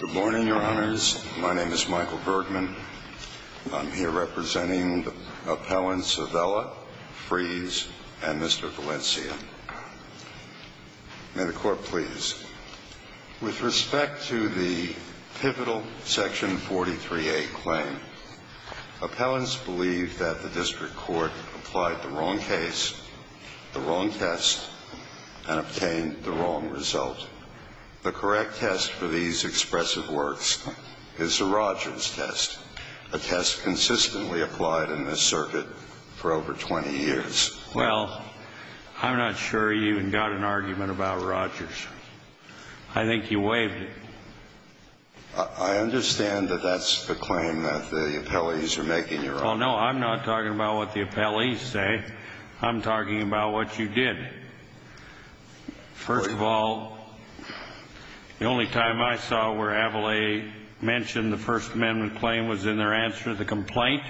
Good morning, your honors. My name is Michael Bergman. I'm here representing the appellants A.V.E.L.A., Fries, and Mr. Valencia. May the court please. With respect to the pivotal Section 43A claim, appellants believe that the district court applied the wrong case, the wrong test, and obtained the wrong verdict. The correct test for these expressive works is the Rogers test, a test consistently applied in this circuit for over 20 years. Well, I'm not sure you even got an argument about Rogers. I think you waived it. I understand that that's the claim that the appellees are making, your honor. Well, no, I'm not talking about what the appellees say. I'm talking about what you did. First of all, the only time I saw where A.V.E.L.A. mentioned the First Amendment claim was in their answer to the complaint.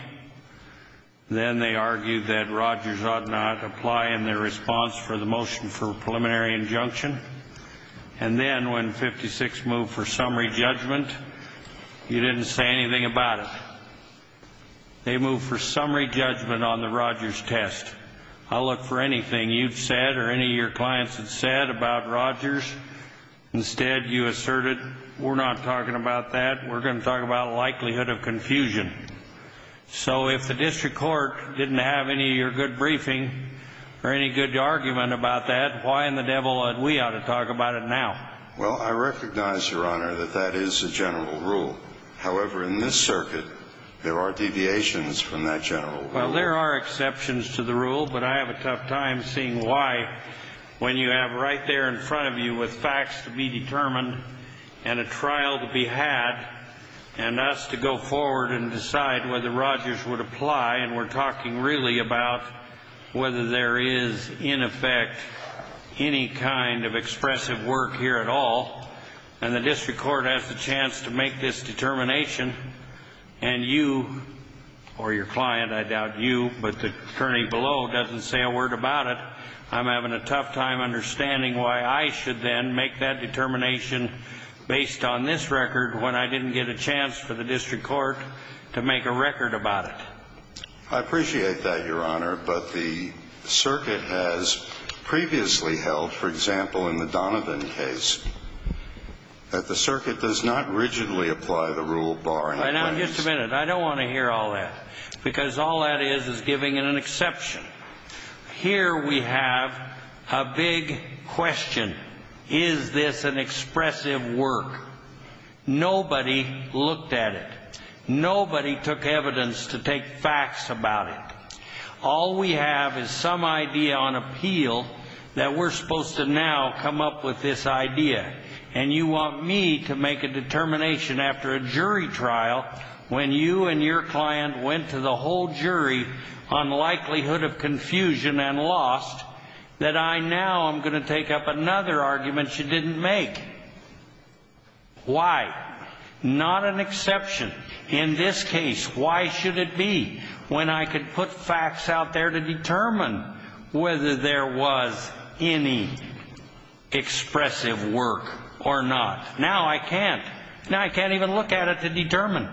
Then they argued that Rogers ought not apply in their response for the motion for preliminary injunction. And then when 56 moved for summary judgment, you didn't say anything about it. They moved for summary judgment on the Rogers test. I'll look for anything you've said or any of your clients have said about Rogers. Instead, you asserted, we're not talking about that. We're going to talk about likelihood of confusion. So if the district court didn't have any of your good briefing or any good argument about that, why in the devil would we ought to talk about it now? Well, I recognize, your honor, that that is a general rule. However, in this circuit, there are deviations from that general rule. Well, there are exceptions to the rule, but I have a tough time seeing why when you have right there in front of you with facts to be determined and a trial to be had and us to go forward and decide whether Rogers would apply. And we're talking really about whether there is, in effect, any kind of expressive work here at all. And the district court has the chance to make this determination. And you or your client, I doubt you, but the attorney below doesn't say a word about it. I'm having a tough time understanding why I should then make that determination based on this record when I didn't get a chance for the district court to make a record about it. I appreciate that, your honor. But the circuit has previously held, for example, in the Donovan case, that the circuit does not rigidly apply the rule bar. Now, just a minute. I don't want to hear all that because all that is is giving it an exception. Here we have a big question. Is this an expressive work? Nobody looked at it. Nobody took evidence to take facts about it. All we have is some idea on appeal that we're supposed to now come up with this idea. And you want me to make a determination after a jury trial when you and your client went to the whole jury on likelihood of confusion and lost that I now am going to take up another argument you didn't make. Why? Not an exception. In this case, why should it be when I could put facts out there to determine whether there was any expressive work or not? Now I can't. Now I can't even look at it to determine.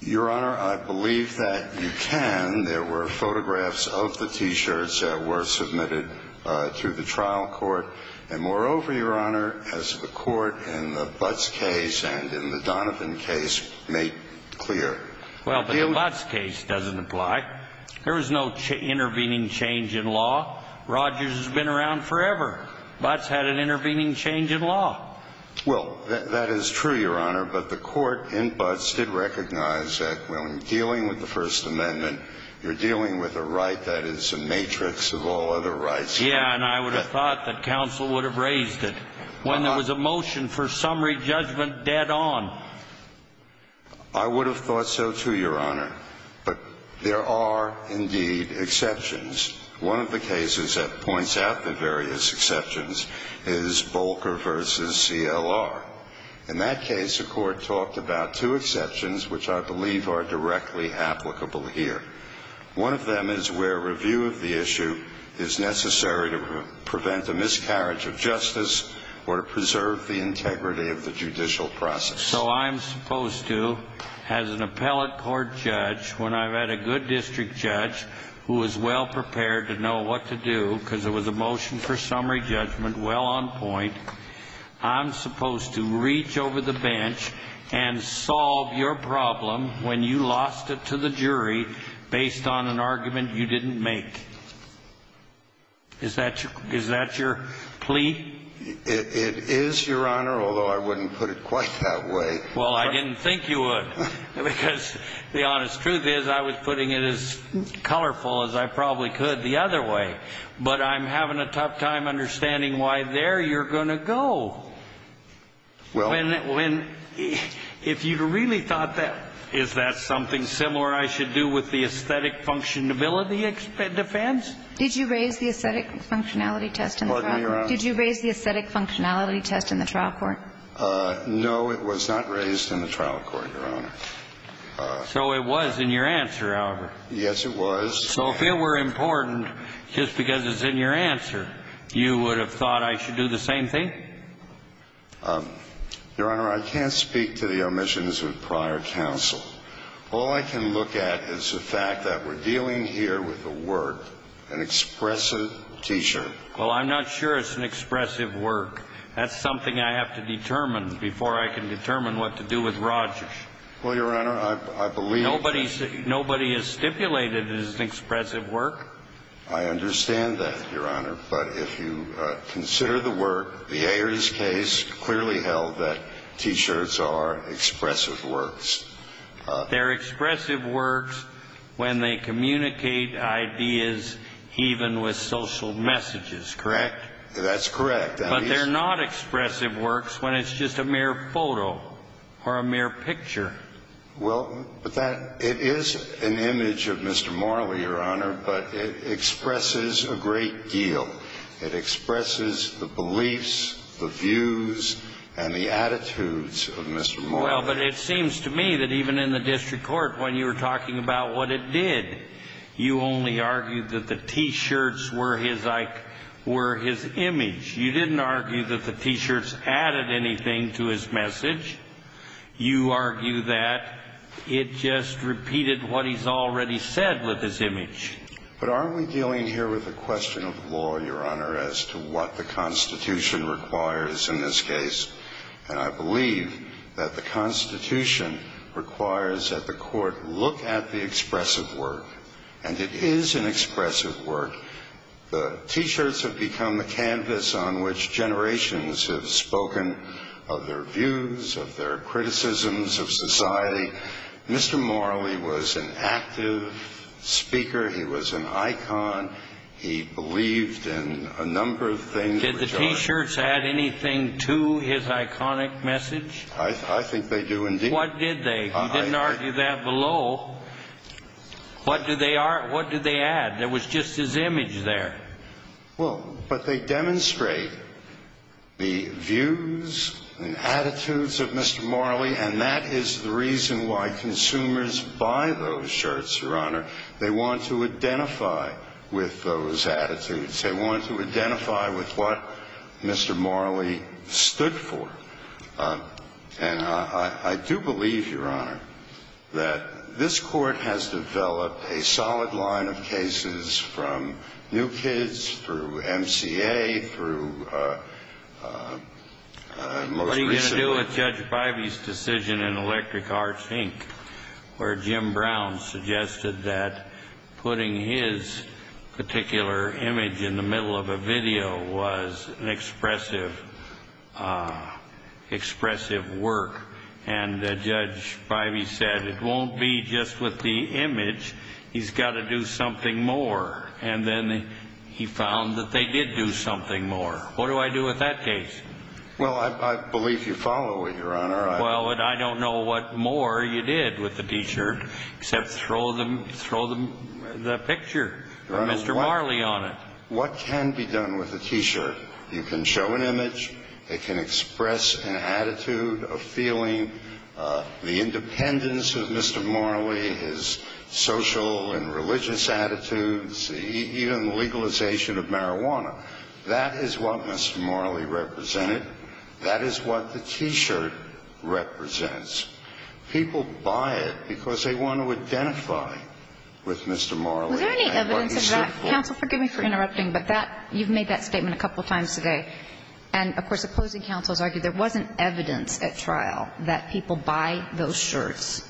Your honor, I believe that you can. There were photographs of the T-shirts that were submitted to the trial court. And moreover, your honor, as the court in the Butts case and in the Donovan case made clear. Well, the Butts case doesn't apply. There was no intervening change in law. Rogers has been around forever. Butts had an intervening change in law. Well, that is true, your honor. But the court in Butts did recognize that when dealing with the First Amendment, you're dealing with a right that is a matrix of all other rights. Yeah, and I would have thought that counsel would have raised it when there was a motion for summary judgment dead on. I would have thought so, too, your honor. But there are indeed exceptions. One of the cases that points out the various exceptions is Volcker v. CLR. In that case, the court talked about two exceptions which I believe are directly applicable here. One of them is where review of the issue is necessary to prevent a miscarriage of justice or to preserve the integrity of the judicial process. So I'm supposed to, as an appellate court judge, when I've had a good district judge who is well prepared to know what to do because there was a motion for summary judgment well on point, I'm supposed to reach over the bench and solve your problem when you lost it to the jury based on an argument you didn't make. Is that your plea? It is, your honor, although I wouldn't put it quite that way. Well, I didn't think you would because the honest truth is I was putting it as colorful as I probably could the other way. But I'm having a tough time understanding why there you're going to go. Well, if you really thought that, is that something similar I should do with the aesthetic functionality defense? Did you raise the aesthetic functionality test in the trial court? Pardon me, your honor. Did you raise the aesthetic functionality test in the trial court? No, it was not raised in the trial court, your honor. So it was in your answer, however. Yes, it was. So if it were important just because it's in your answer, you would have thought I should do the same thing? Your honor, I can't speak to the omissions of prior counsel. All I can look at is the fact that we're dealing here with a work, an expressive teacher. Well, I'm not sure it's an expressive work. That's something I have to determine before I can determine what to do with Rogers. Well, your honor, I believe. Nobody is stipulated as an expressive work. I understand that, your honor. But if you consider the work, the Ayers case clearly held that T-shirts are expressive works. They're expressive works when they communicate ideas even with social messages, correct? That's correct. But they're not expressive works when it's just a mere photo or a mere picture. Well, it is an image of Mr. Morley, your honor, but it expresses a great deal. It expresses the beliefs, the views, and the attitudes of Mr. Morley. Well, but it seems to me that even in the district court when you were talking about what it did, you only argued that the T-shirts were his image. You didn't argue that the T-shirts added anything to his message. You argue that it just repeated what he's already said with his image. But aren't we dealing here with a question of law, your honor, as to what the Constitution requires in this case? And I believe that the Constitution requires that the court look at the expressive work. And it is an expressive work. The T-shirts have become a canvas on which generations have spoken of their views, of their criticisms of society. Mr. Morley was an active speaker. He was an icon. He believed in a number of things. Did the T-shirts add anything to his iconic message? I think they do indeed. What did they? You didn't argue that below. What do they add? There was just his image there. Well, but they demonstrate the views and attitudes of Mr. Morley, and that is the reason why consumers buy those shirts, your honor. They want to identify with those attitudes. They want to identify with what Mr. Morley stood for. And I do believe, your honor, that this court has developed a solid line of cases from New Kids through MCA through most recently. What do I do with Judge Bivey's decision in Electric Arts, Inc., where Jim Brown suggested that putting his particular image in the middle of a video was an expressive work? And Judge Bivey said it won't be just with the image. He's got to do something more. And then he found that they did do something more. What do I do with that case? Well, I believe you follow it, your honor. Well, and I don't know what more you did with the T-shirt except throw the picture of Mr. Morley on it. What can be done with a T-shirt? You can show an image. It can express an attitude of feeling the independence of Mr. Morley, his social and religious attitudes, even the legalization of marijuana. That is what Mr. Morley represented. That is what the T-shirt represents. People buy it because they want to identify with Mr. Morley and what he stood for. Was there any evidence of that? Counsel, forgive me for interrupting, but that you've made that statement a couple times today. And, of course, opposing counsels argued there wasn't evidence at trial that people buy those shirts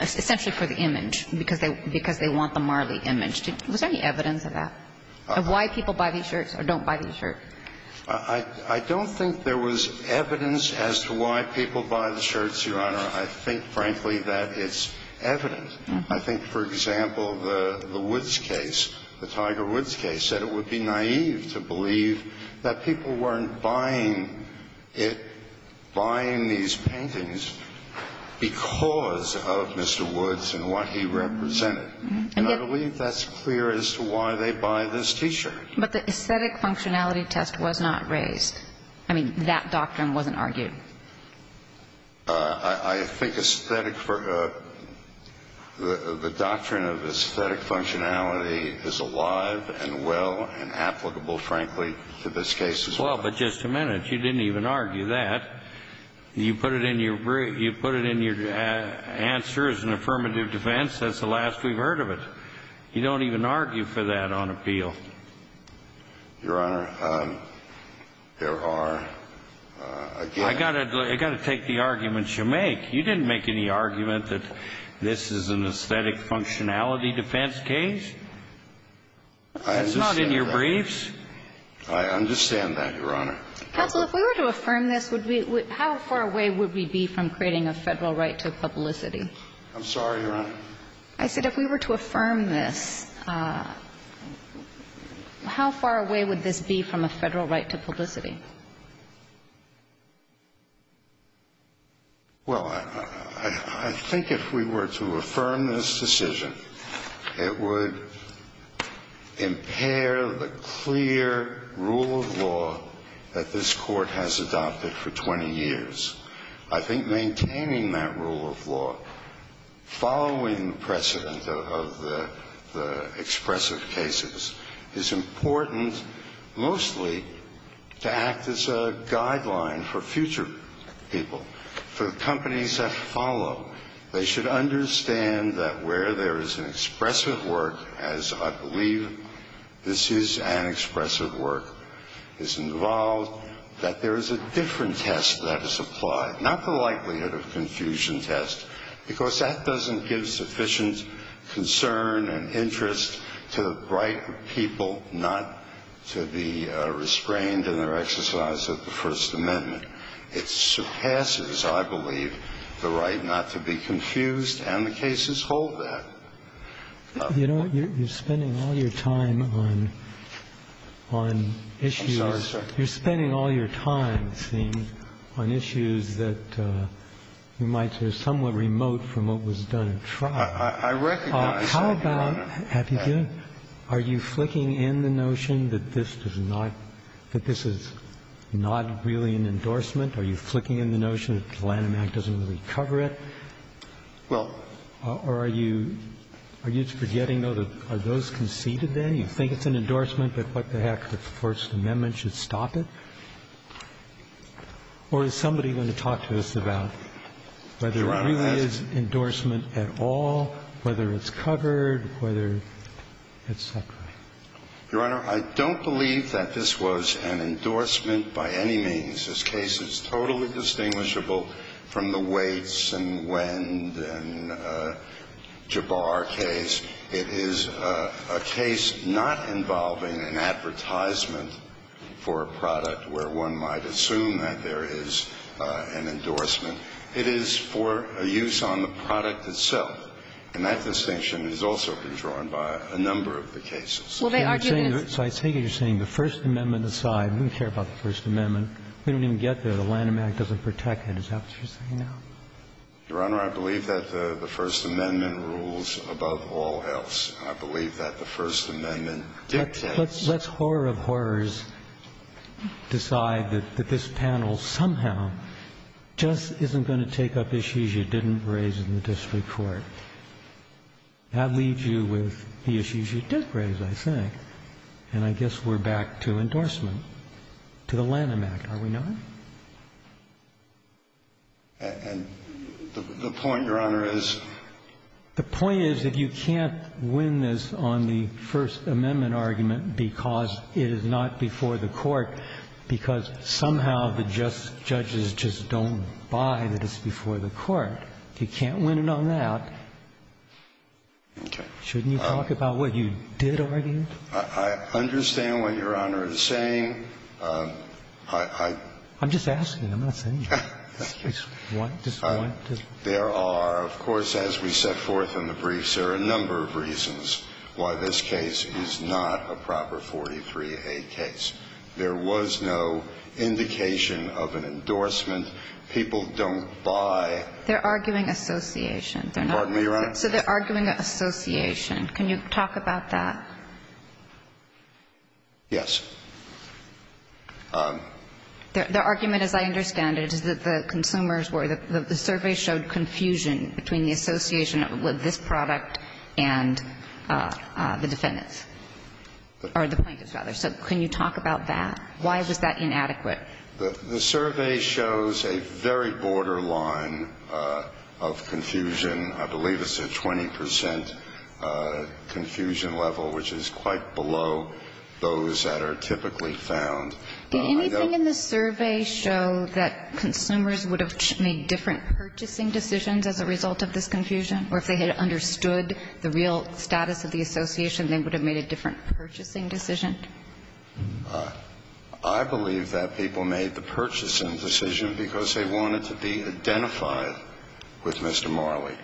essentially for the image because they want the Morley image. Was there any evidence of that, of why people buy these shirts or don't buy these shirts? I don't think there was evidence as to why people buy the shirts, your honor. I think, frankly, that it's evident. I think, for example, the Woods case, the Tiger Woods case, said it would be naive to believe that people weren't buying it, buying these paintings because of Mr. Woods and what he represented. And I believe that's clear as to why they buy this T-shirt. But the aesthetic functionality test was not raised. I mean, that doctrine wasn't argued. I think aesthetic for the doctrine of aesthetic functionality is alive and well and applicable, frankly, to this case as well. Well, but just a minute. You didn't even argue that. You put it in your answer as an affirmative defense. That's the last we've heard of it. You don't even argue for that on appeal. Your Honor, there are, again ---- I've got to take the arguments you make. You didn't make any argument that this is an aesthetic functionality defense case. It's not in your briefs. I understand that, your Honor. Counsel, if we were to affirm this, how far away would we be from creating a Federal right to publicity? I'm sorry, your Honor. I said if we were to affirm this, how far away would this be from a Federal right to publicity? Well, I think if we were to affirm this decision, it would impair the clear rule of law that this Court has adopted for 20 years. I think maintaining that rule of law, following the precedent of the expressive cases, is important mostly to act as a guideline for future people, for the companies that follow. They should understand that where there is an expressive work, as I believe this is an expressive work, is involved, that there is a different test that is applied. Not the likelihood of confusion test, because that doesn't give sufficient concern and interest to the right of people not to be restrained in their exercise of the First Amendment. It surpasses, I believe, the right not to be confused, and the cases hold that. You know, you're spending all your time on issues. I'm sorry, sir. You're spending all your time, see, on issues that you might say are somewhat remote from what was done at trial. I recognize that, your Honor. Have you been? Are you flicking in the notion that this does not, that this is not really an endorsement? Are you flicking in the notion that the Lanham Act doesn't really cover it? Well. Or are you, are you forgetting, though, that are those conceded there? You think it's an endorsement, but what the heck, the First Amendment should stop it? Or is somebody going to talk to us about whether it really is endorsement at all, whether it's covered, whether it's separate? Your Honor, I don't believe that this was an endorsement by any means. This case is totally distinguishable from the Waits and Wend and Jabbar case. It is a case not involving an advertisement for a product where one might assume that there is an endorsement. It is for a use on the product itself. And that distinction has also been drawn by a number of the cases. Well, they argue that it's. So I take it you're saying the First Amendment aside. We don't care about the First Amendment. We don't even get there. The Lanham Act doesn't protect it. Is that what you're saying now? Your Honor, I believe that the First Amendment rules above all else. I believe that the First Amendment dictates. Let's horror of horrors decide that this panel somehow just isn't going to take up issues you didn't raise in the district court. That leaves you with the issues you did raise, I think, and I guess we're back to endorsement to the Lanham Act, are we not? And the point, Your Honor, is? The point is that you can't win this on the First Amendment argument because it is not before the court, because somehow the judges just don't buy that it's before the court. You can't win it on that. Okay. Shouldn't you talk about what you did argue? I understand what Your Honor is saying. I'm just asking. I'm not saying anything. There are, of course, as we set forth in the briefs, there are a number of reasons why this case is not a proper 43A case. There was no indication of an endorsement. People don't buy. They're arguing association. Pardon me, Your Honor? So they're arguing association. Can you talk about that? Yes. The argument, as I understand it, is that the consumers were the survey showed confusion between the association of this product and the defendants, or the plaintiffs, rather. So can you talk about that? Why was that inadequate? The survey shows a very borderline of confusion. I believe it's a 20% confusion level, which is quite below those that are typically found. Did anything in the survey show that consumers would have made different purchasing decisions as a result of this confusion? Or if they had understood the real status of the association, they would have made a different purchasing decision? I believe that people made the purchasing decision because they wanted to be identified with Mr. Marley.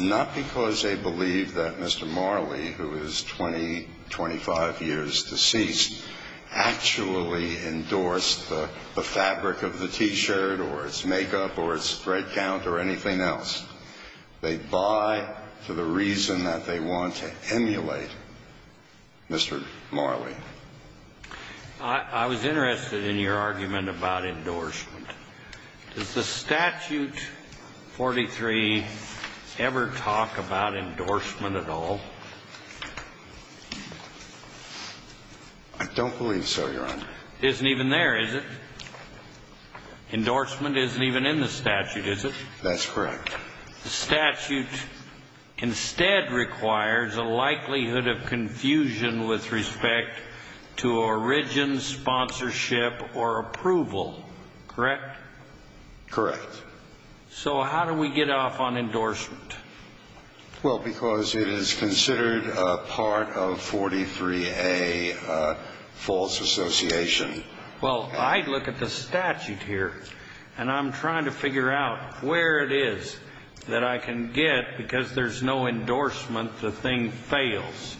Not because they believe that Mr. Marley, who is 20, 25 years deceased, actually endorsed the fabric of the T-shirt or its makeup or its thread count or anything else. They buy for the reason that they want to emulate Mr. Marley. I was interested in your argument about endorsement. Does the statute 43 ever talk about endorsement at all? I don't believe so, Your Honor. It isn't even there, is it? Endorsement isn't even in the statute, is it? That's correct. The statute instead requires a likelihood of confusion with respect to origin, sponsorship, or approval. Correct? Correct. So how do we get off on endorsement? Well, because it is considered a part of 43A false association. Well, I look at the statute here, and I'm trying to figure out where it is that I can get because there's no endorsement, the thing fails.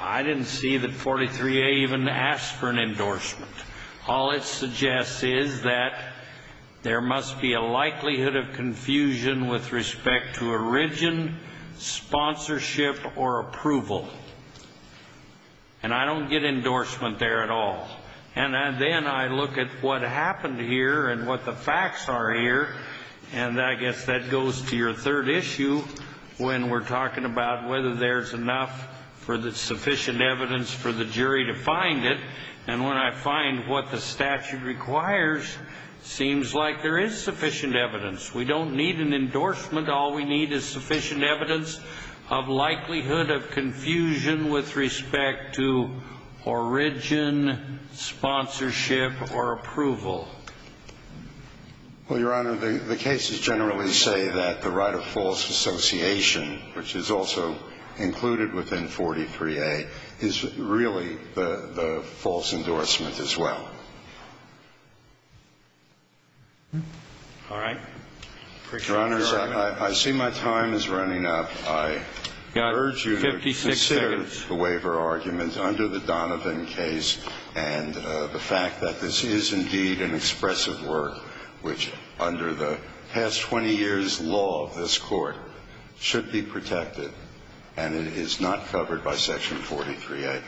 I didn't see that 43A even asked for an endorsement. All it suggests is that there must be a likelihood of confusion with respect to origin, sponsorship, or approval. And I don't get endorsement there at all. And then I look at what happened here and what the facts are here, and I guess that goes to your third issue when we're talking about whether there's enough sufficient evidence for the jury to find it. And when I find what the statute requires, it seems like there is sufficient evidence. We don't need an endorsement. All we need is sufficient evidence of likelihood of confusion with respect to origin, sponsorship, or approval. Well, Your Honor, the cases generally say that the right of false association, which is also included within 43A, is really the false endorsement as well. All right. Appreciate your argument. Your Honors, I see my time is running up. I urge you to consider the waiver argument under the Donovan case and the fact that this is indeed an expressive work which, under the past 20 years' law of this Court, should be protected, and it is not covered by Section 43A.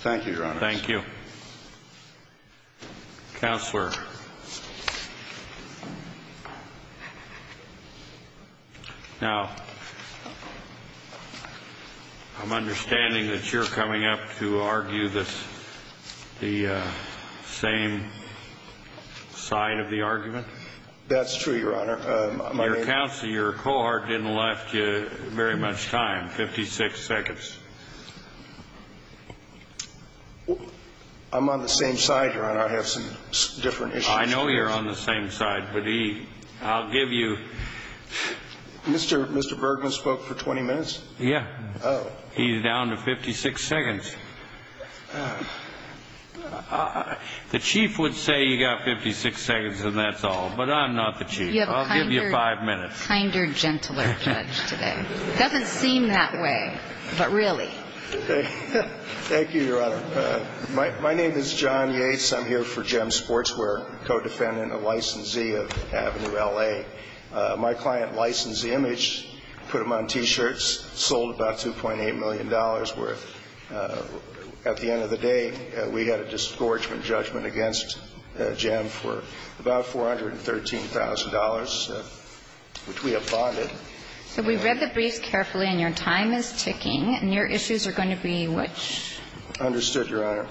Thank you, Your Honors. Thank you. Counselor, now, I'm understanding that you're coming up to argue the same side of the argument? That's true, Your Honor. Your counsel, your cohort, didn't left you very much time, 56 seconds. I'm on the same side, Your Honor. I have some different issues. I know you're on the same side, but I'll give you ---- Mr. Bergman spoke for 20 minutes? Yeah. Oh. He's down to 56 seconds. The Chief would say you got 56 seconds and that's all, but I'm not the Chief. I'll give you five minutes. You have a kinder, gentler judge today. It doesn't seem that way, but really. Thank you, Your Honor. My name is John Yates. I'm here for GEM Sportswear, co-defendant and licensee of Avenue LA. My client licensed the image, put them on T-shirts, sold about $2.8 million worth. At the end of the day, we had a disgorgement judgment against GEM for about $413,000, which we have bonded. So we read the briefs carefully and your time is ticking, and your issues are going to be which? Understood, Your Honor.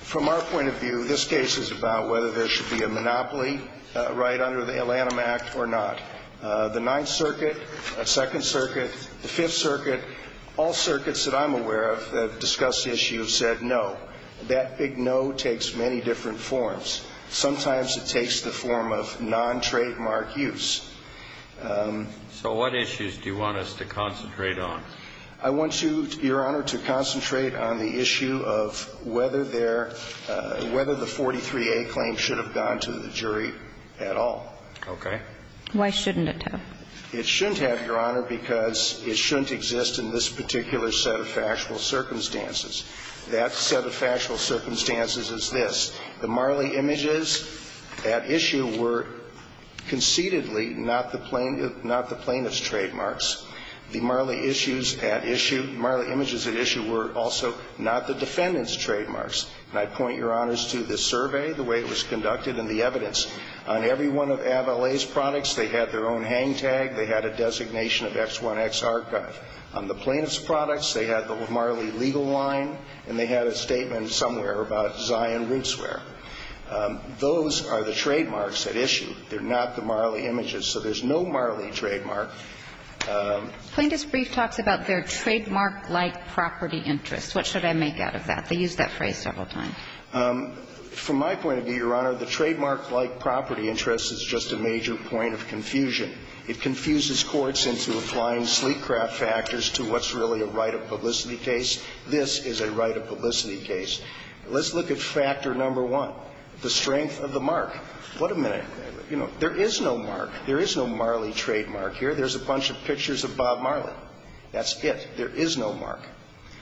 From our point of view, this case is about whether there should be a monopoly right under the Atlanta Act or not. The Ninth Circuit, Second Circuit, the Fifth Circuit, all circuits that I'm aware of that have discussed the issue have said no. That big no takes many different forms. Sometimes it takes the form of non-trademark use. So what issues do you want us to concentrate on? I want you, Your Honor, to concentrate on the issue of whether the 43A claim should have gone to the jury at all. Okay. Why shouldn't it have? It shouldn't have, Your Honor, because it shouldn't exist in this particular set of factual circumstances. That set of factual circumstances is this. The Marley images at issue were concededly not the plaintiff's trademarks. The Marley issues at issue, Marley images at issue were also not the defendant's trademarks. And I point, Your Honors, to this survey, the way it was conducted, and the evidence on every one of Avalay's products, they had their own hang tag, they had a designation of X1X archive. On the plaintiff's products, they had the Marley legal line, and they had a statement somewhere about Zion Rootswear. Those are the trademarks at issue. They're not the Marley images. So there's no Marley trademark. Plaintiff's brief talks about their trademark-like property interests. What should I make out of that? They use that phrase several times. From my point of view, Your Honor, the trademark-like property interest is just a major point of confusion. It confuses courts into applying sleek craft factors to what's really a right of publicity case. This is a right of publicity case. Let's look at factor number one, the strength of the mark. What a minute. You know, there is no mark. There is no Marley trademark here. There's a bunch of pictures of Bob Marley. That's it. There is no mark.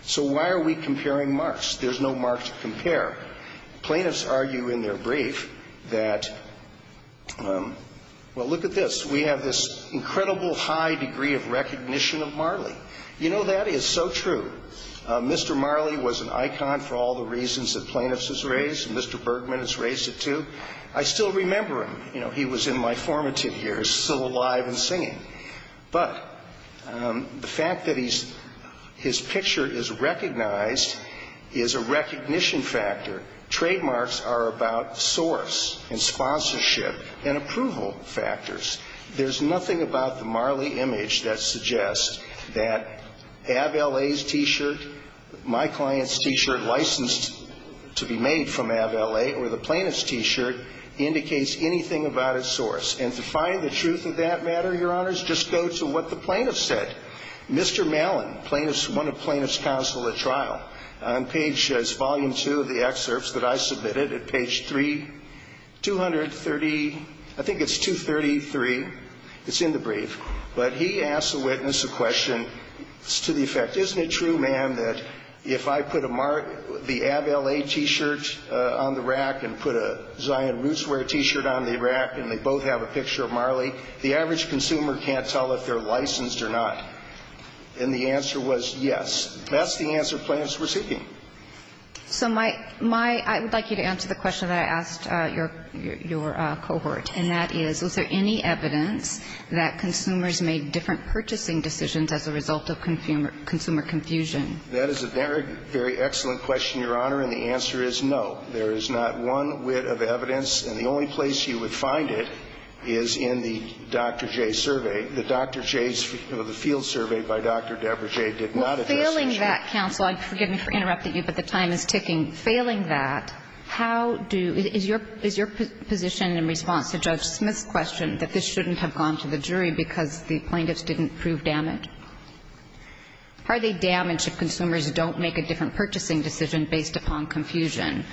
So why are we comparing marks? There's no mark to compare. Plaintiffs argue in their brief that, well, look at this. We have this incredible high degree of recognition of Marley. You know, that is so true. Mr. Marley was an icon for all the reasons that plaintiffs has raised. Mr. Bergman has raised it, too. I still remember him. But the fact that his picture is recognized is a recognition factor. Trademarks are about source and sponsorship and approval factors. There's nothing about the Marley image that suggests that Ab L.A.'s T-shirt, my client's T-shirt licensed to be made from Ab L.A. or the plaintiff's T-shirt indicates anything about its source. And to find the truth of that matter, Your Honors, just go to what the plaintiff said. Mr. Mallon, plaintiff's one of plaintiff's counsel at trial, on page, it's volume 2 of the excerpts that I submitted at page 3, 230, I think it's 233. It's in the brief. But he asked the witness a question to the effect, isn't it true, ma'am, that if I put a mark, the Ab L.A. T-shirt on the rack and put a Zion Rootswear T-shirt on the rack and they both have a picture of Marley, the average consumer can't tell if they're licensed or not. And the answer was yes. That's the answer plaintiffs were seeking. So my – I would like you to answer the question that I asked your cohort, and that is, is there any evidence that consumers made different purchasing decisions as a result of consumer confusion? That is a very, very excellent question, Your Honor, and the answer is no. There is not one whit of evidence. And the only place you would find it is in the Dr. Jay survey. The Dr. Jay's field survey by Dr. Deborah Jay did not address the issue. Well, failing that, counsel, forgive me for interrupting you, but the time is ticking. Failing that, how do – is your position in response to Judge Smith's question that this shouldn't have gone to the jury because the plaintiffs didn't prove damage? Are they damage if consumers don't make a different purchasing decision based upon confusion?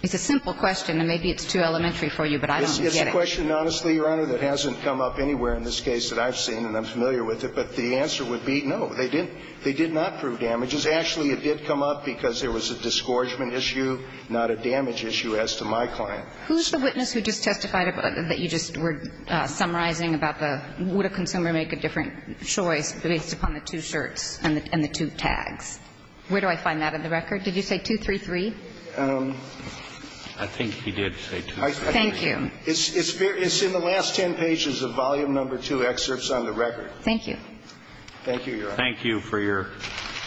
It's a simple question, and maybe it's too elementary for you, but I don't get it. It's a question, honestly, Your Honor, that hasn't come up anywhere in this case that I've seen, and I'm familiar with it, but the answer would be no. They didn't – they did not prove damages. Actually, it did come up because there was a disgorgement issue, not a damage issue as to my client. Who's the witness who just testified about – that you just were summarizing about the – would a consumer make a different choice based upon the two shirts and the two tags? Where do I find that in the record? Did you say 233? I think he did say 233. Thank you. It's in the last ten pages of volume number two excerpts on the record. Thank you. Thank you, Your Honor. Thank you for your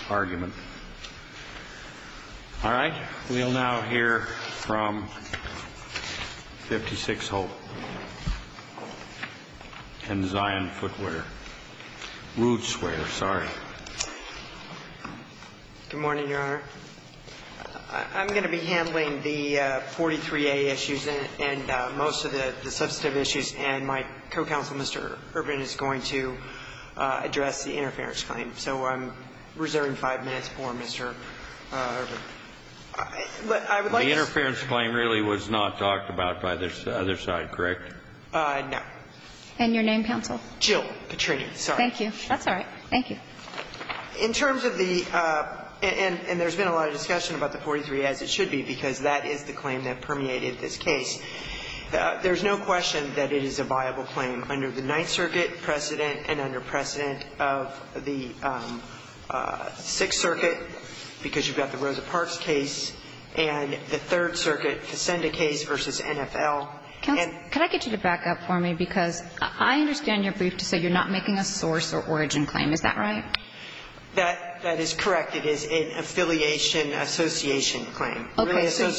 argument. All right. We'll now hear from 56 Hope and Zion Footwear – Rootswear, sorry. Good morning, Your Honor. I'm going to be handling the 43A issues and most of the substantive issues, and my co-counsel, Mr. Urban, is going to address the interference claim. So I'm reserving five minutes for Mr. Urban. The interference claim really was not talked about by this other side, correct? No. And your name, counsel? Jill Patry, sorry. Thank you. That's all right. Thank you. In terms of the – and there's been a lot of discussion about the 43A, as it should be, because that is the claim that permeated this case. There's no question that it is a viable claim under the Ninth Circuit precedent and under precedent of the Sixth Circuit, because you've got the Rosa Parks case, and the Third Circuit, Cassinda case versus NFL. Counsel, can I get you to back up for me? Because I understand your brief to say you're not making a source or origin claim. Is that right? That is correct. It is an affiliation association claim. Okay. So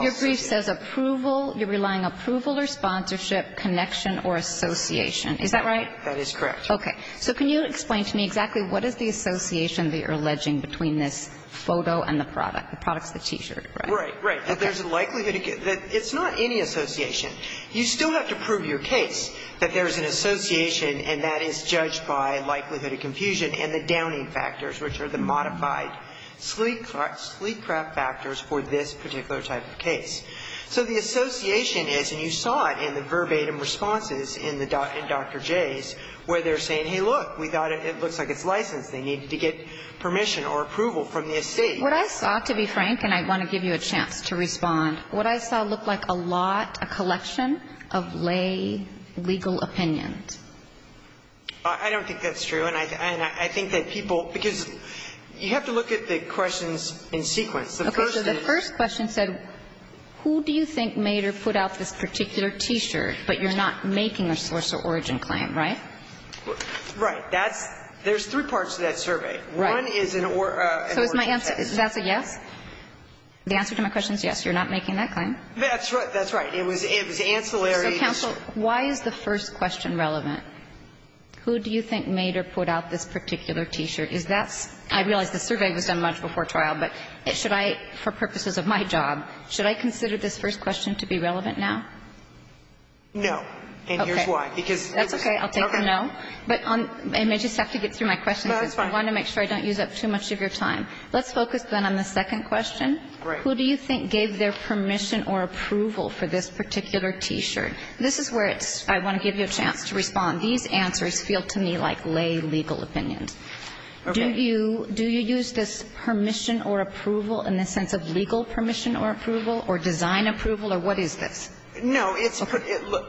your brief says approval – you're relying approval or sponsorship, connection or association. Is that right? That is correct. Okay. So can you explain to me exactly what is the association that you're alleging between this photo and the product? The product's the T-shirt, right? Right, right. That there's a likelihood – it's not any association. You still have to prove your case that there is an association and that is judged by likelihood of confusion and the downing factors, which are the modified sleep prep factors for this particular type of case. So the association is, and you saw it in the verbatim responses in Dr. J's, where they're saying, hey, look, we thought it looks like it's licensed. They need to get permission or approval from the estate. What I saw, to be frank, and I want to give you a chance to respond, what I saw looked like a lot, a collection of lay legal opinions. I don't think that's true. And I think that people – because you have to look at the questions in sequence. Okay. So the first question said, who do you think made or put out this particular T-shirt, but you're not making a source or origin claim, right? Right. That's – there's three parts to that survey. Right. One is an origin test. So is my answer – is that a yes? The answer to my question is yes. You're not making that claim. That's right. That's right. It was ancillary. So counsel, why is the first question relevant? Who do you think made or put out this particular T-shirt? I realize the survey was done much before trial, but should I – for purposes of my job, should I consider this first question to be relevant now? No. Okay. And here's why. Because it was – okay. That's okay. I'll take a no. But on – and I just have to get through my questions. No, that's fine. I want to make sure I don't use up too much of your time. Let's focus, then, on the second question. Right. Who do you think gave their permission or approval for this particular T-shirt? This is where it's – I want to give you a chance to respond. These answers feel to me like lay legal opinions. Okay. Do you use this permission or approval in the sense of legal permission or approval or design approval, or what is this? No, it's – look,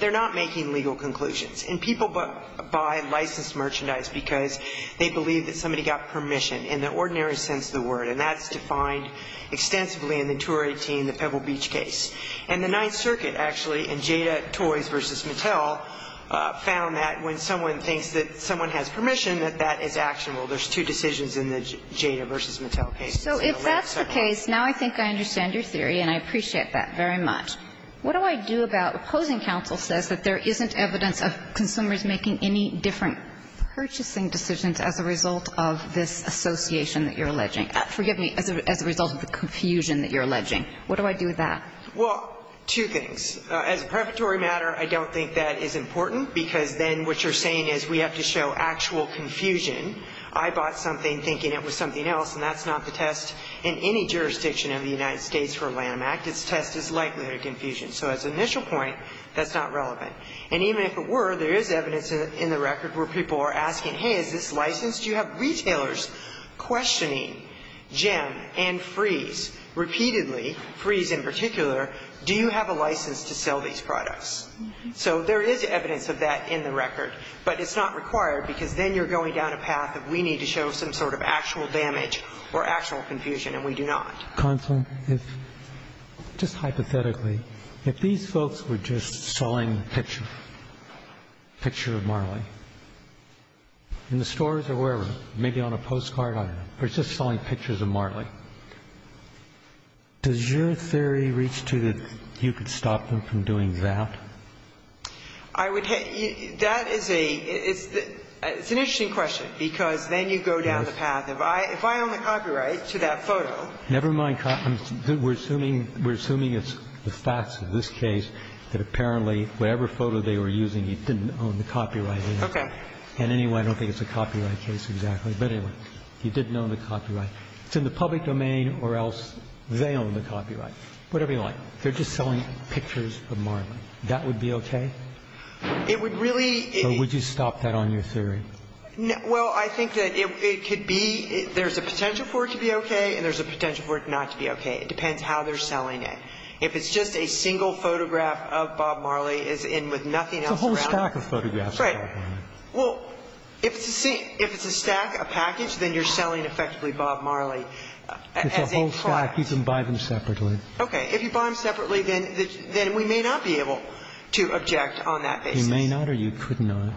they're not making legal conclusions. And people buy licensed merchandise because they believe that somebody got permission in the ordinary sense of the word, and that's defined extensively in the Tour 18, the Pebble Beach case. And the Ninth Circuit, actually, in Jada, Toys v. Mattel, found that when someone thinks that someone has permission, that that is actionable. There's two decisions in the Jada v. Mattel case. So if that's the case, now I think I understand your theory, and I appreciate that very much. What do I do about – opposing counsel says that there isn't evidence of consumers making any different purchasing decisions as a result of this association that you're alleging – forgive me, as a result of the confusion that you're alleging. What do I do with that? Well, two things. As a preparatory matter, I don't think that is important, because then what you're saying is we have to show actual confusion. I bought something thinking it was something else, and that's not the test in any jurisdiction of the United States for a Lanham Act. Its test is likely a confusion. So as an initial point, that's not relevant. And even if it were, there is evidence in the record where people are asking, hey, is this licensed? You have retailers questioning Jem and Freeze repeatedly, Freeze in particular, do you have a license to sell these products? So there is evidence of that in the record, but it's not required, because then you're going down a path of we need to show some sort of actual damage or actual confusion, and we do not. Kagan. If – just hypothetically, if these folks were just selling a picture, a picture of Marley, in the stores or wherever, maybe on a postcard, I don't know, or just selling pictures of Marley, does your theory reach to that you could stop them from doing that? I would – that is a – it's an interesting question, because then you go down the path of if I own the copyright to that photo. Never mind copyright. We're assuming it's the facts of this case that apparently whatever photo they were using, he didn't own the copyright. Okay. And anyway, I don't think it's a copyright case exactly, but anyway, he didn't own the copyright. It's in the public domain or else they own the copyright. Whatever you like. They're just selling pictures of Marley. That would be okay? It would really – Or would you stop that on your theory? Well, I think that it could be – there's a potential for it to be okay and there's a potential for it not to be okay. It depends how they're selling it. If it's just a single photograph of Bob Marley is in with nothing else around Right. Well, if it's a stack, a package, then you're selling effectively Bob Marley. It's a whole stack. You can buy them separately. Okay. If you buy them separately, then we may not be able to object on that basis. You may not or you could not.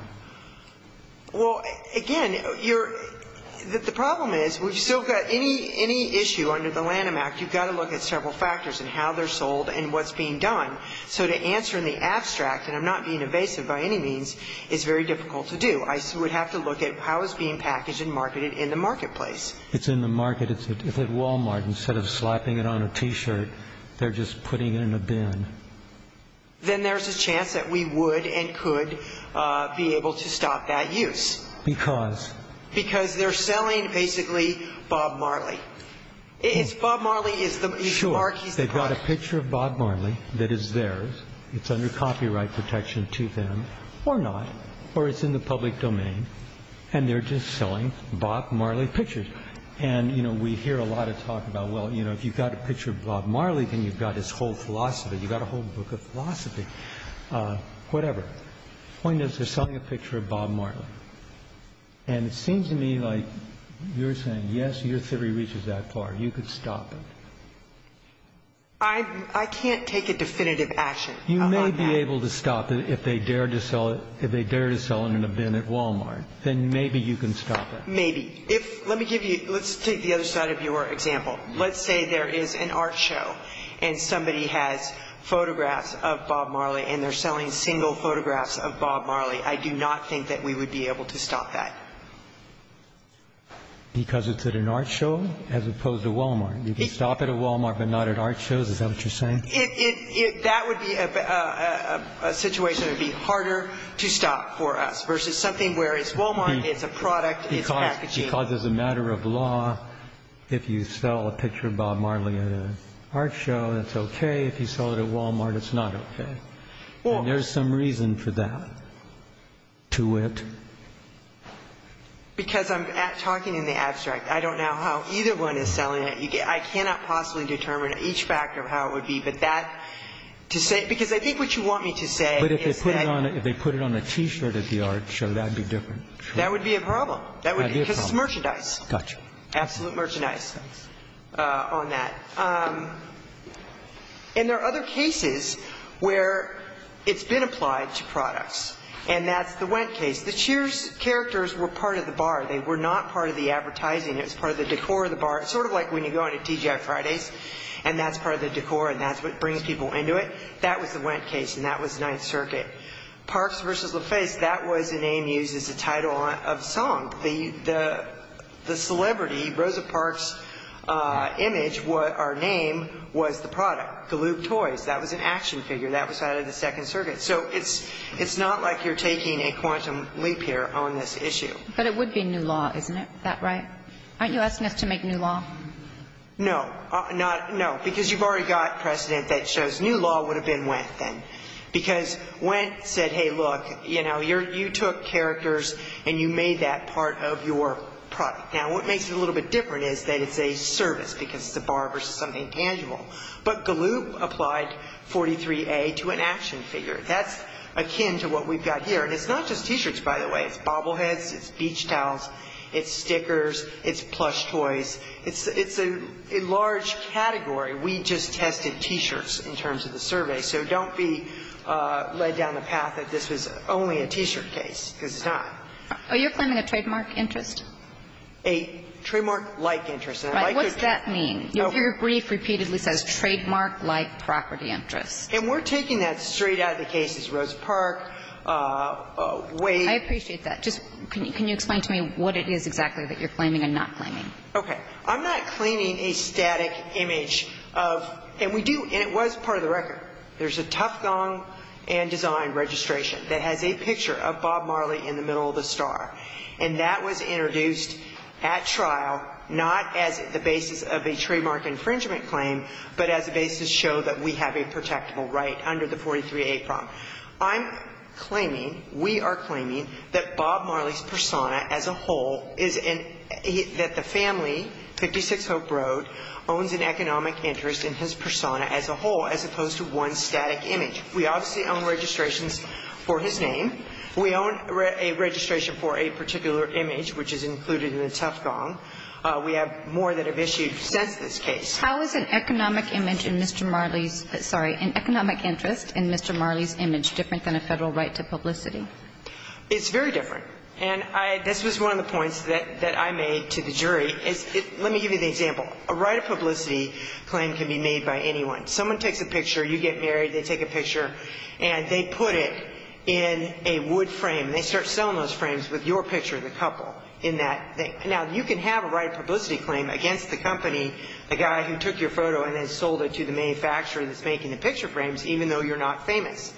Well, again, you're – the problem is we've still got any issue under the Lanham Act. You've got to look at several factors and how they're sold and what's being done. So to answer in the abstract, and I'm not being evasive by any means, is very difficult to do. I would have to look at how it's being packaged and marketed in the marketplace. It's in the market. If at Walmart, instead of slapping it on a T-shirt, they're just putting it in a bin. Then there's a chance that we would and could be able to stop that use. Because? Because they're selling basically Bob Marley. It's Bob Marley is the – that is theirs. It's under copyright protection to them or not, or it's in the public domain, and they're just selling Bob Marley pictures. And, you know, we hear a lot of talk about, well, you know, if you've got a picture of Bob Marley, then you've got his whole philosophy. You've got a whole book of philosophy. Whatever. The point is they're selling a picture of Bob Marley. And it seems to me like you're saying, yes, your theory reaches that far. You could stop it. I can't take a definitive action on that. You may be able to stop it if they dare to sell it in a bin at Walmart. Then maybe you can stop it. Maybe. If – let me give you – let's take the other side of your example. Let's say there is an art show and somebody has photographs of Bob Marley and they're selling single photographs of Bob Marley. I do not think that we would be able to stop that. Because it's at an art show as opposed to Walmart. You can stop it at Walmart but not at art shows. Is that what you're saying? That would be a situation that would be harder to stop for us versus something where it's Walmart, it's a product, it's packaging. Because as a matter of law, if you sell a picture of Bob Marley at an art show, it's okay. If you sell it at Walmart, it's not okay. And there's some reason for that to it. Because I'm talking in the abstract. I don't know how either one is selling it. I cannot possibly determine each factor of how it would be. But that – because I think what you want me to say is that – But if they put it on a T-shirt at the art show, that would be different. That would be a problem. That would be a problem. Because it's merchandise. Gotcha. Absolute merchandise on that. And there are other cases where it's been applied to products. And that's the Wendt case. The Cheers characters were part of the bar. They were not part of the advertising. It was part of the decor of the bar. It's sort of like when you go into TGI Fridays, and that's part of the decor, and that's what brings people into it. That was the Wendt case, and that was Ninth Circuit. Parks versus LaFace, that was a name used as a title of song. The celebrity, Rosa Parks' image, our name, was the product. The loop toys, that was an action figure. That was out of the Second Circuit. So it's not like you're taking a quantum leap here on this issue. But it would be new law, isn't it? Isn't that right? Aren't you asking us to make new law? No. Because you've already got precedent that shows new law would have been Wendt then. Because Wendt said, hey, look, you took characters and you made that part of your product. Now, what makes it a little bit different is that it's a service because it's a bar versus something tangible. But the loop applied 43A to an action figure. That's akin to what we've got here. And it's not just T-shirts, by the way. It's bobbleheads. It's beach towels. It's stickers. It's plush toys. It's a large category. We just tested T-shirts in terms of the survey. So don't be led down the path that this was only a T-shirt case, because it's not. Are you claiming a trademark interest? A trademark-like interest. Right. What's that mean? Your brief repeatedly says trademark-like property interest. And we're taking that straight out of the cases. Rosa Parks, Wade. I appreciate that. Just can you explain to me what it is exactly that you're claiming and not claiming? Okay. I'm not claiming a static image of – and we do – and it was part of the record. There's a Tuff Gong and Design registration that has a picture of Bob Marley in the middle of the star. And that was introduced at trial not as the basis of a trademark infringement claim, but as a basis to show that we have a protectable right under the 43A problem. I'm claiming – we are claiming that Bob Marley's persona as a whole is in – that the family, 56 Hope Road, owns an economic interest in his persona as a whole as opposed to one static image. We obviously own registrations for his name. We own a registration for a particular image, which is included in the Tuff Gong. We have more that have issued since this case. How is an economic image in Mr. Marley's – sorry, an economic interest in Mr. Marley's image different than a federal right to publicity? It's very different. And I – this was one of the points that I made to the jury is – let me give you the example. A right of publicity claim can be made by anyone. Someone takes a picture. You get married. They take a picture. And they put it in a wood frame. They start selling those frames with your picture of the couple in that thing. Now, you can have a right of publicity claim against the company, the guy who took your photo and then sold it to the manufacturer that's making the picture frames, even though you're not famous.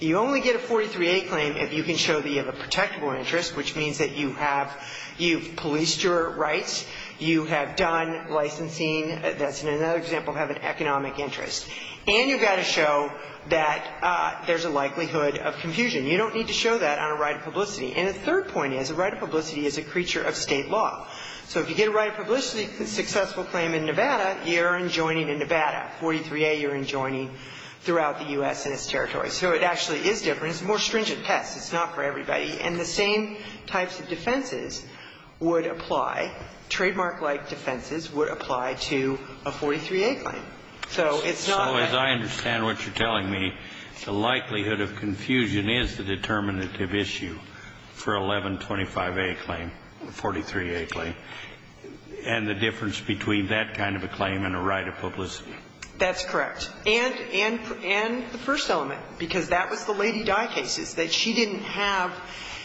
You only get a 43A claim if you can show that you have a protectable interest, which means that you have – you've policed your rights. You have done licensing. That's another example of having an economic interest. And you've got to show that there's a likelihood of confusion. You don't need to show that on a right of publicity. And a third point is a right of publicity is a creature of State law. So if you get a right of publicity successful claim in Nevada, you're enjoining in Nevada. 43A, you're enjoining throughout the U.S. and its territories. So it actually is different. It's a more stringent test. It's not for everybody. And the same types of defenses would apply. Trademark-like defenses would apply to a 43A claim. So it's not that – And the difference between that kind of a claim and a right of publicity. That's correct. And the first element, because that was the Lady Dye cases, that she didn't have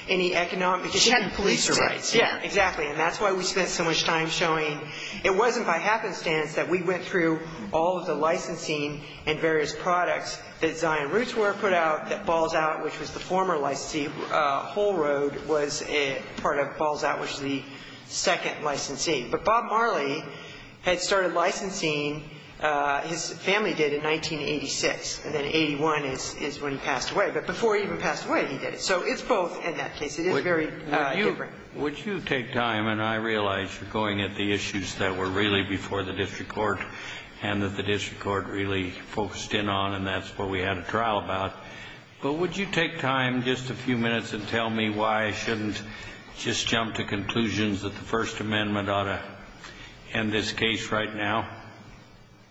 any economic – She hadn't policed her rights. Yeah, exactly. And that's why we spent so much time showing it wasn't by happenstance that we went through all of the licensing and various products that Zion Rootsware put out, that Balls Out, which was the former licensee, Whole Road was part of Balls Out, which was the second licensee. But Bob Marley had started licensing – his family did in 1986, and then 81 is when he passed away. But before he even passed away, he did it. So it's both in that case. It is very different. Would you take time – and I realize you're going at the issues that were really before the district court and that the district court really focused in on, and that's what we had a trial about. But would you take time, just a few minutes, and tell me why I shouldn't just jump to conclusions that the First Amendment ought to end this case right now?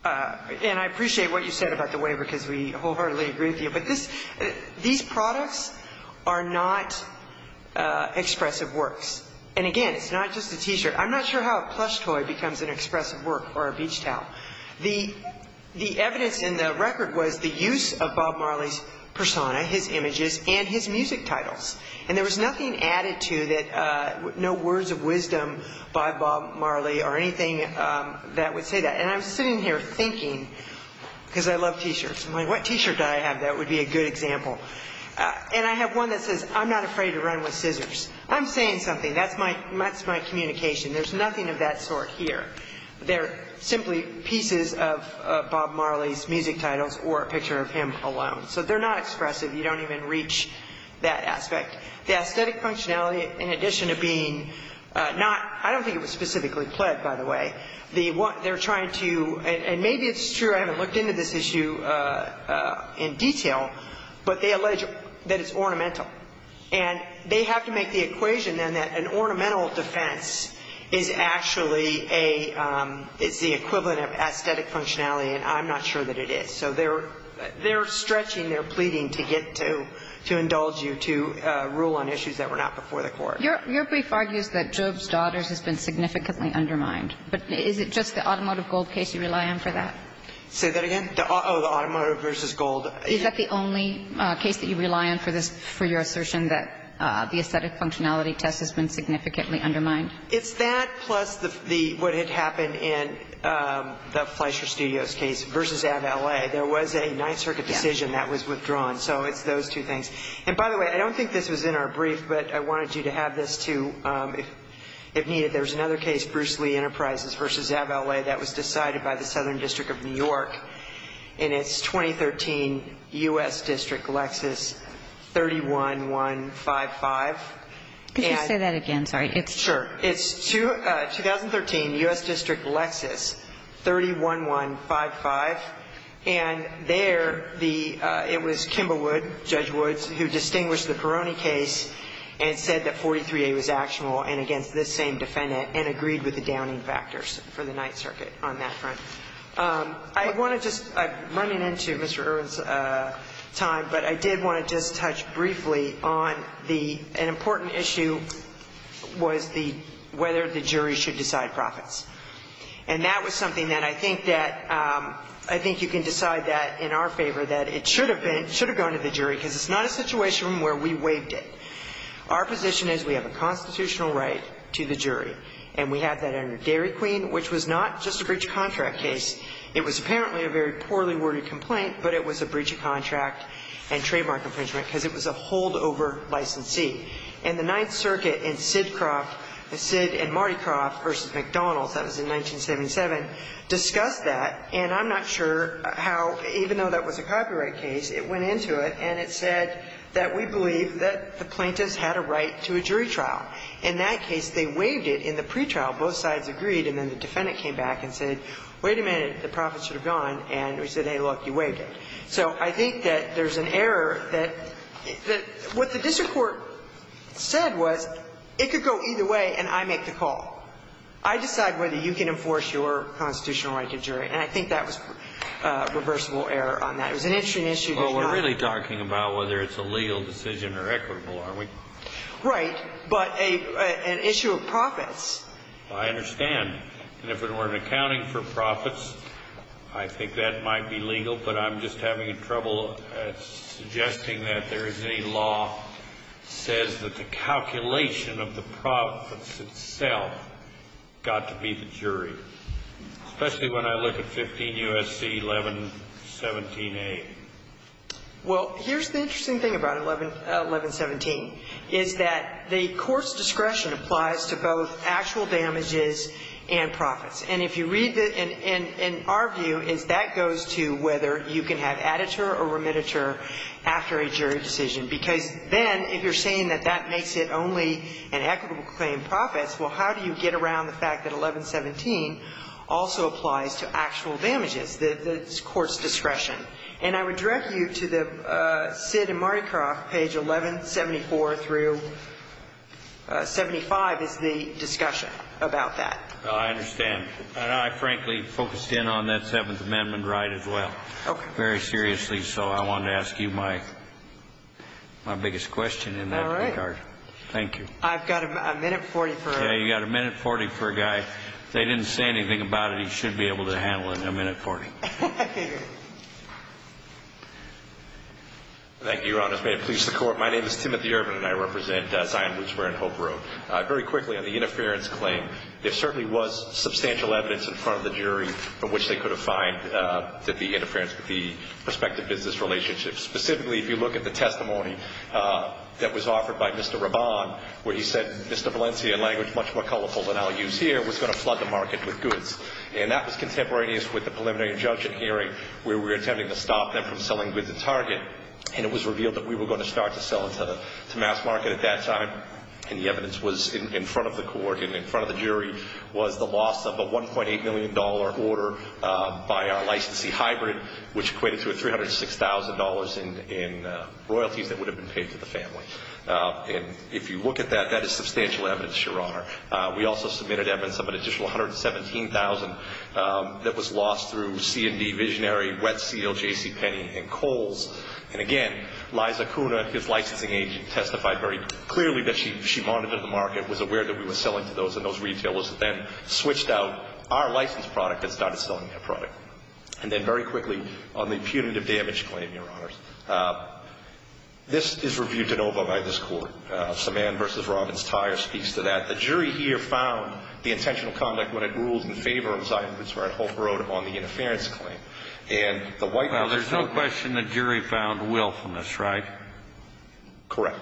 And I appreciate what you said about the waiver, because we wholeheartedly agree with you. But these products are not expressive works. And, again, it's not just a T-shirt. I'm not sure how a plush toy becomes an expressive work or a beach towel. The evidence in the record was the use of Bob Marley's persona, his images, and his music titles. And there was nothing added to that – no words of wisdom by Bob Marley or anything that would say that. And I'm sitting here thinking, because I love T-shirts. I'm like, what T-shirt do I have that would be a good example? And I have one that says, I'm not afraid to run with scissors. I'm saying something. That's my communication. There's nothing of that sort here. They're simply pieces of Bob Marley's music titles or a picture of him alone. So they're not expressive. You don't even reach that aspect. The aesthetic functionality, in addition to being not – I don't think it was specifically plagued, by the way. They're trying to – and maybe it's true I haven't looked into this issue in detail, but they allege that it's ornamental. And they have to make the equation, then, that an ornamental defense is actually a – is the equivalent of aesthetic functionality. And I'm not sure that it is. So they're stretching, they're pleading to get to – to indulge you to rule on issues that were not before the Court. Your brief argues that Job's Daughters has been significantly undermined. But is it just the Automotive Gold case you rely on for that? Oh, the Automotive v. Gold. Is that the only case that you rely on for this – for your assertion that the aesthetic functionality test has been significantly undermined? It's that plus the – what had happened in the Fleischer Studios case v. Ave. L.A. There was a Ninth Circuit decision that was withdrawn. So it's those two things. And by the way, I don't think this was in our brief, but I wanted you to have this, too, if needed. There was another case, Bruce Lee Enterprises v. Ave. L.A. that was decided by the Southern District of New York in its 2013 U.S. District Lexus 31155. Could you say that again? Sorry. Sure. It's 2013 U.S. District Lexus 31155. And there the – it was Kimball Wood, Judge Woods, who distinguished the Peroni case and said that 43A was actionable and against this same defendant and agreed with the Downing factors for the Ninth Circuit on that front. I want to just – I'm running into Mr. Irwin's time, but I did want to just touch briefly on the – an important issue was the – whether the jury should decide profits. And that was something that I think that – I think you can decide that in our favor, that it should have been – should have gone to the jury because it's not a situation where we waived it. Our position is we have a constitutional right to the jury, and we have that under Dairy Queen, which was not just a breach of contract case. It was apparently a very poorly worded complaint, but it was a breach of contract and trademark infringement because it was a holdover licensee. And the Ninth Circuit in Sidcroft – Sid and Martycroft v. McDonald's, that was in 1977, discussed that, and I'm not sure how – even though that was a copyright case, it went into it and it said that we believe that the plaintiffs had a right to a jury trial. In that case, they waived it in the pretrial. Both sides agreed, and then the defendant came back and said, wait a minute, the profits should have gone, and we said, hey, look, you waived it. So I think that there's an error that – what the district court said was it could go either way and I make the call. I decide whether you can enforce your constitutional right to jury, and I think that was a reversible error on that. It was an interesting issue, but not – Well, we're really talking about whether it's a legal decision or equitable, aren't we? Right. But an issue of profits – I understand. And if it were an accounting for profits, I think that might be legal, but I'm just having trouble suggesting that there is any law that says that the calculation of the profits itself got to be the jury, especially when I look at 15 U.S.C. 1117a. Well, here's the interesting thing about 1117, is that the court's discretion applies to both actual damages and profits. And if you read the – and our view is that goes to whether you can have additure or remititure after a jury decision, because then if you're saying that that makes it only an equitable claim of profits, well, how do you get around the fact that 1117 also applies to actual damages, the court's discretion? And I would direct you to the Sid and Mardikoff page 1174 through 75 is the discussion about that. Well, I understand. And I frankly focused in on that Seventh Amendment right as well, very seriously. So I wanted to ask you my biggest question in that regard. Thank you. I've got a minute 40 for – Yeah, you've got a minute 40 for a guy. If they didn't say anything about it, he should be able to handle it in a minute 40. Okay. Thank you, Your Honor. May it please the Court. My name is Timothy Urban, and I represent Zion Bootswear and Hope Road. Very quickly, on the interference claim, there certainly was substantial evidence in front of the jury from which they could have fined that the interference with the prospective business relationship. Specifically, if you look at the testimony that was offered by Mr. Raban, where he said Mr. Valencia, in language much more colorful than I'll use here, was going to flood the market with goods. And that was contemporaneous with the preliminary injunction hearing where we were attempting to stop them from selling goods in Target. And it was revealed that we were going to start to sell to mass market at that time. And the evidence was in front of the court and in front of the jury which equated to $306,000 in royalties that would have been paid to the family. And if you look at that, that is substantial evidence, Your Honor. We also submitted evidence of an additional $117,000 that was lost through C&D, Visionary, Wet Seal, JCPenney, and Kohl's. And again, Liza Kuna, his licensing agent, testified very clearly that she monitored the market, was aware that we were selling to those and those retailers then switched out our licensed product and started selling their product. And then very quickly, on the punitive damage claim, Your Honor, this is reviewed de novo by this court. Saman v. Robbins-Tyre speaks to that. The jury here found the intentional conduct when it ruled in favor of Zyphus or at Hope Road on the interference claim. And the White House... Well, there's no question the jury found willfulness, right? Correct.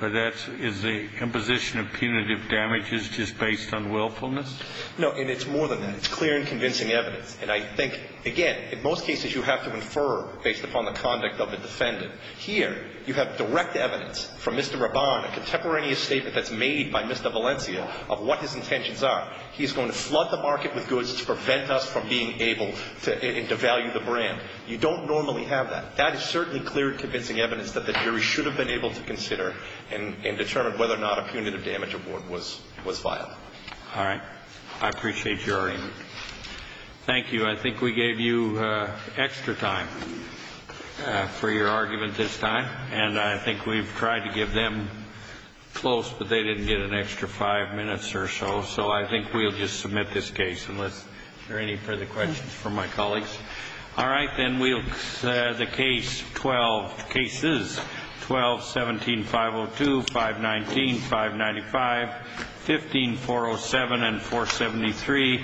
But that's the imposition of punitive damages just based on willfulness? No, and it's more than that. It's clear and convincing evidence. And I think, again, in most cases you have to infer based upon the conduct of the defendant. Here you have direct evidence from Mr. Robbins, a contemporaneous statement that's made by Mr. Valencia of what his intentions are. He's going to flood the market with goods to prevent us from being able to devalue the brand. You don't normally have that. That is certainly clear and convincing evidence that the jury should have been able to consider and determine whether or not a punitive damage award was viable. All right. I appreciate your input. Thank you. I think we gave you extra time for your argument this time. And I think we've tried to give them close, but they didn't get an extra five minutes or so. So I think we'll just submit this case unless there are any further questions from my colleagues. All right. The case 12. Cases 12, 17, 502, 519, 595, 15, 407, and 473,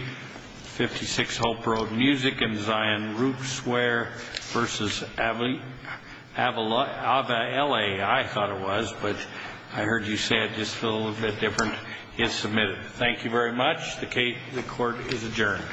56, Hope Road Music, and Zion Root Swear v. Avala, I thought it was. But I heard you say it just a little bit different. It's submitted. Thank you very much. The court is adjourned.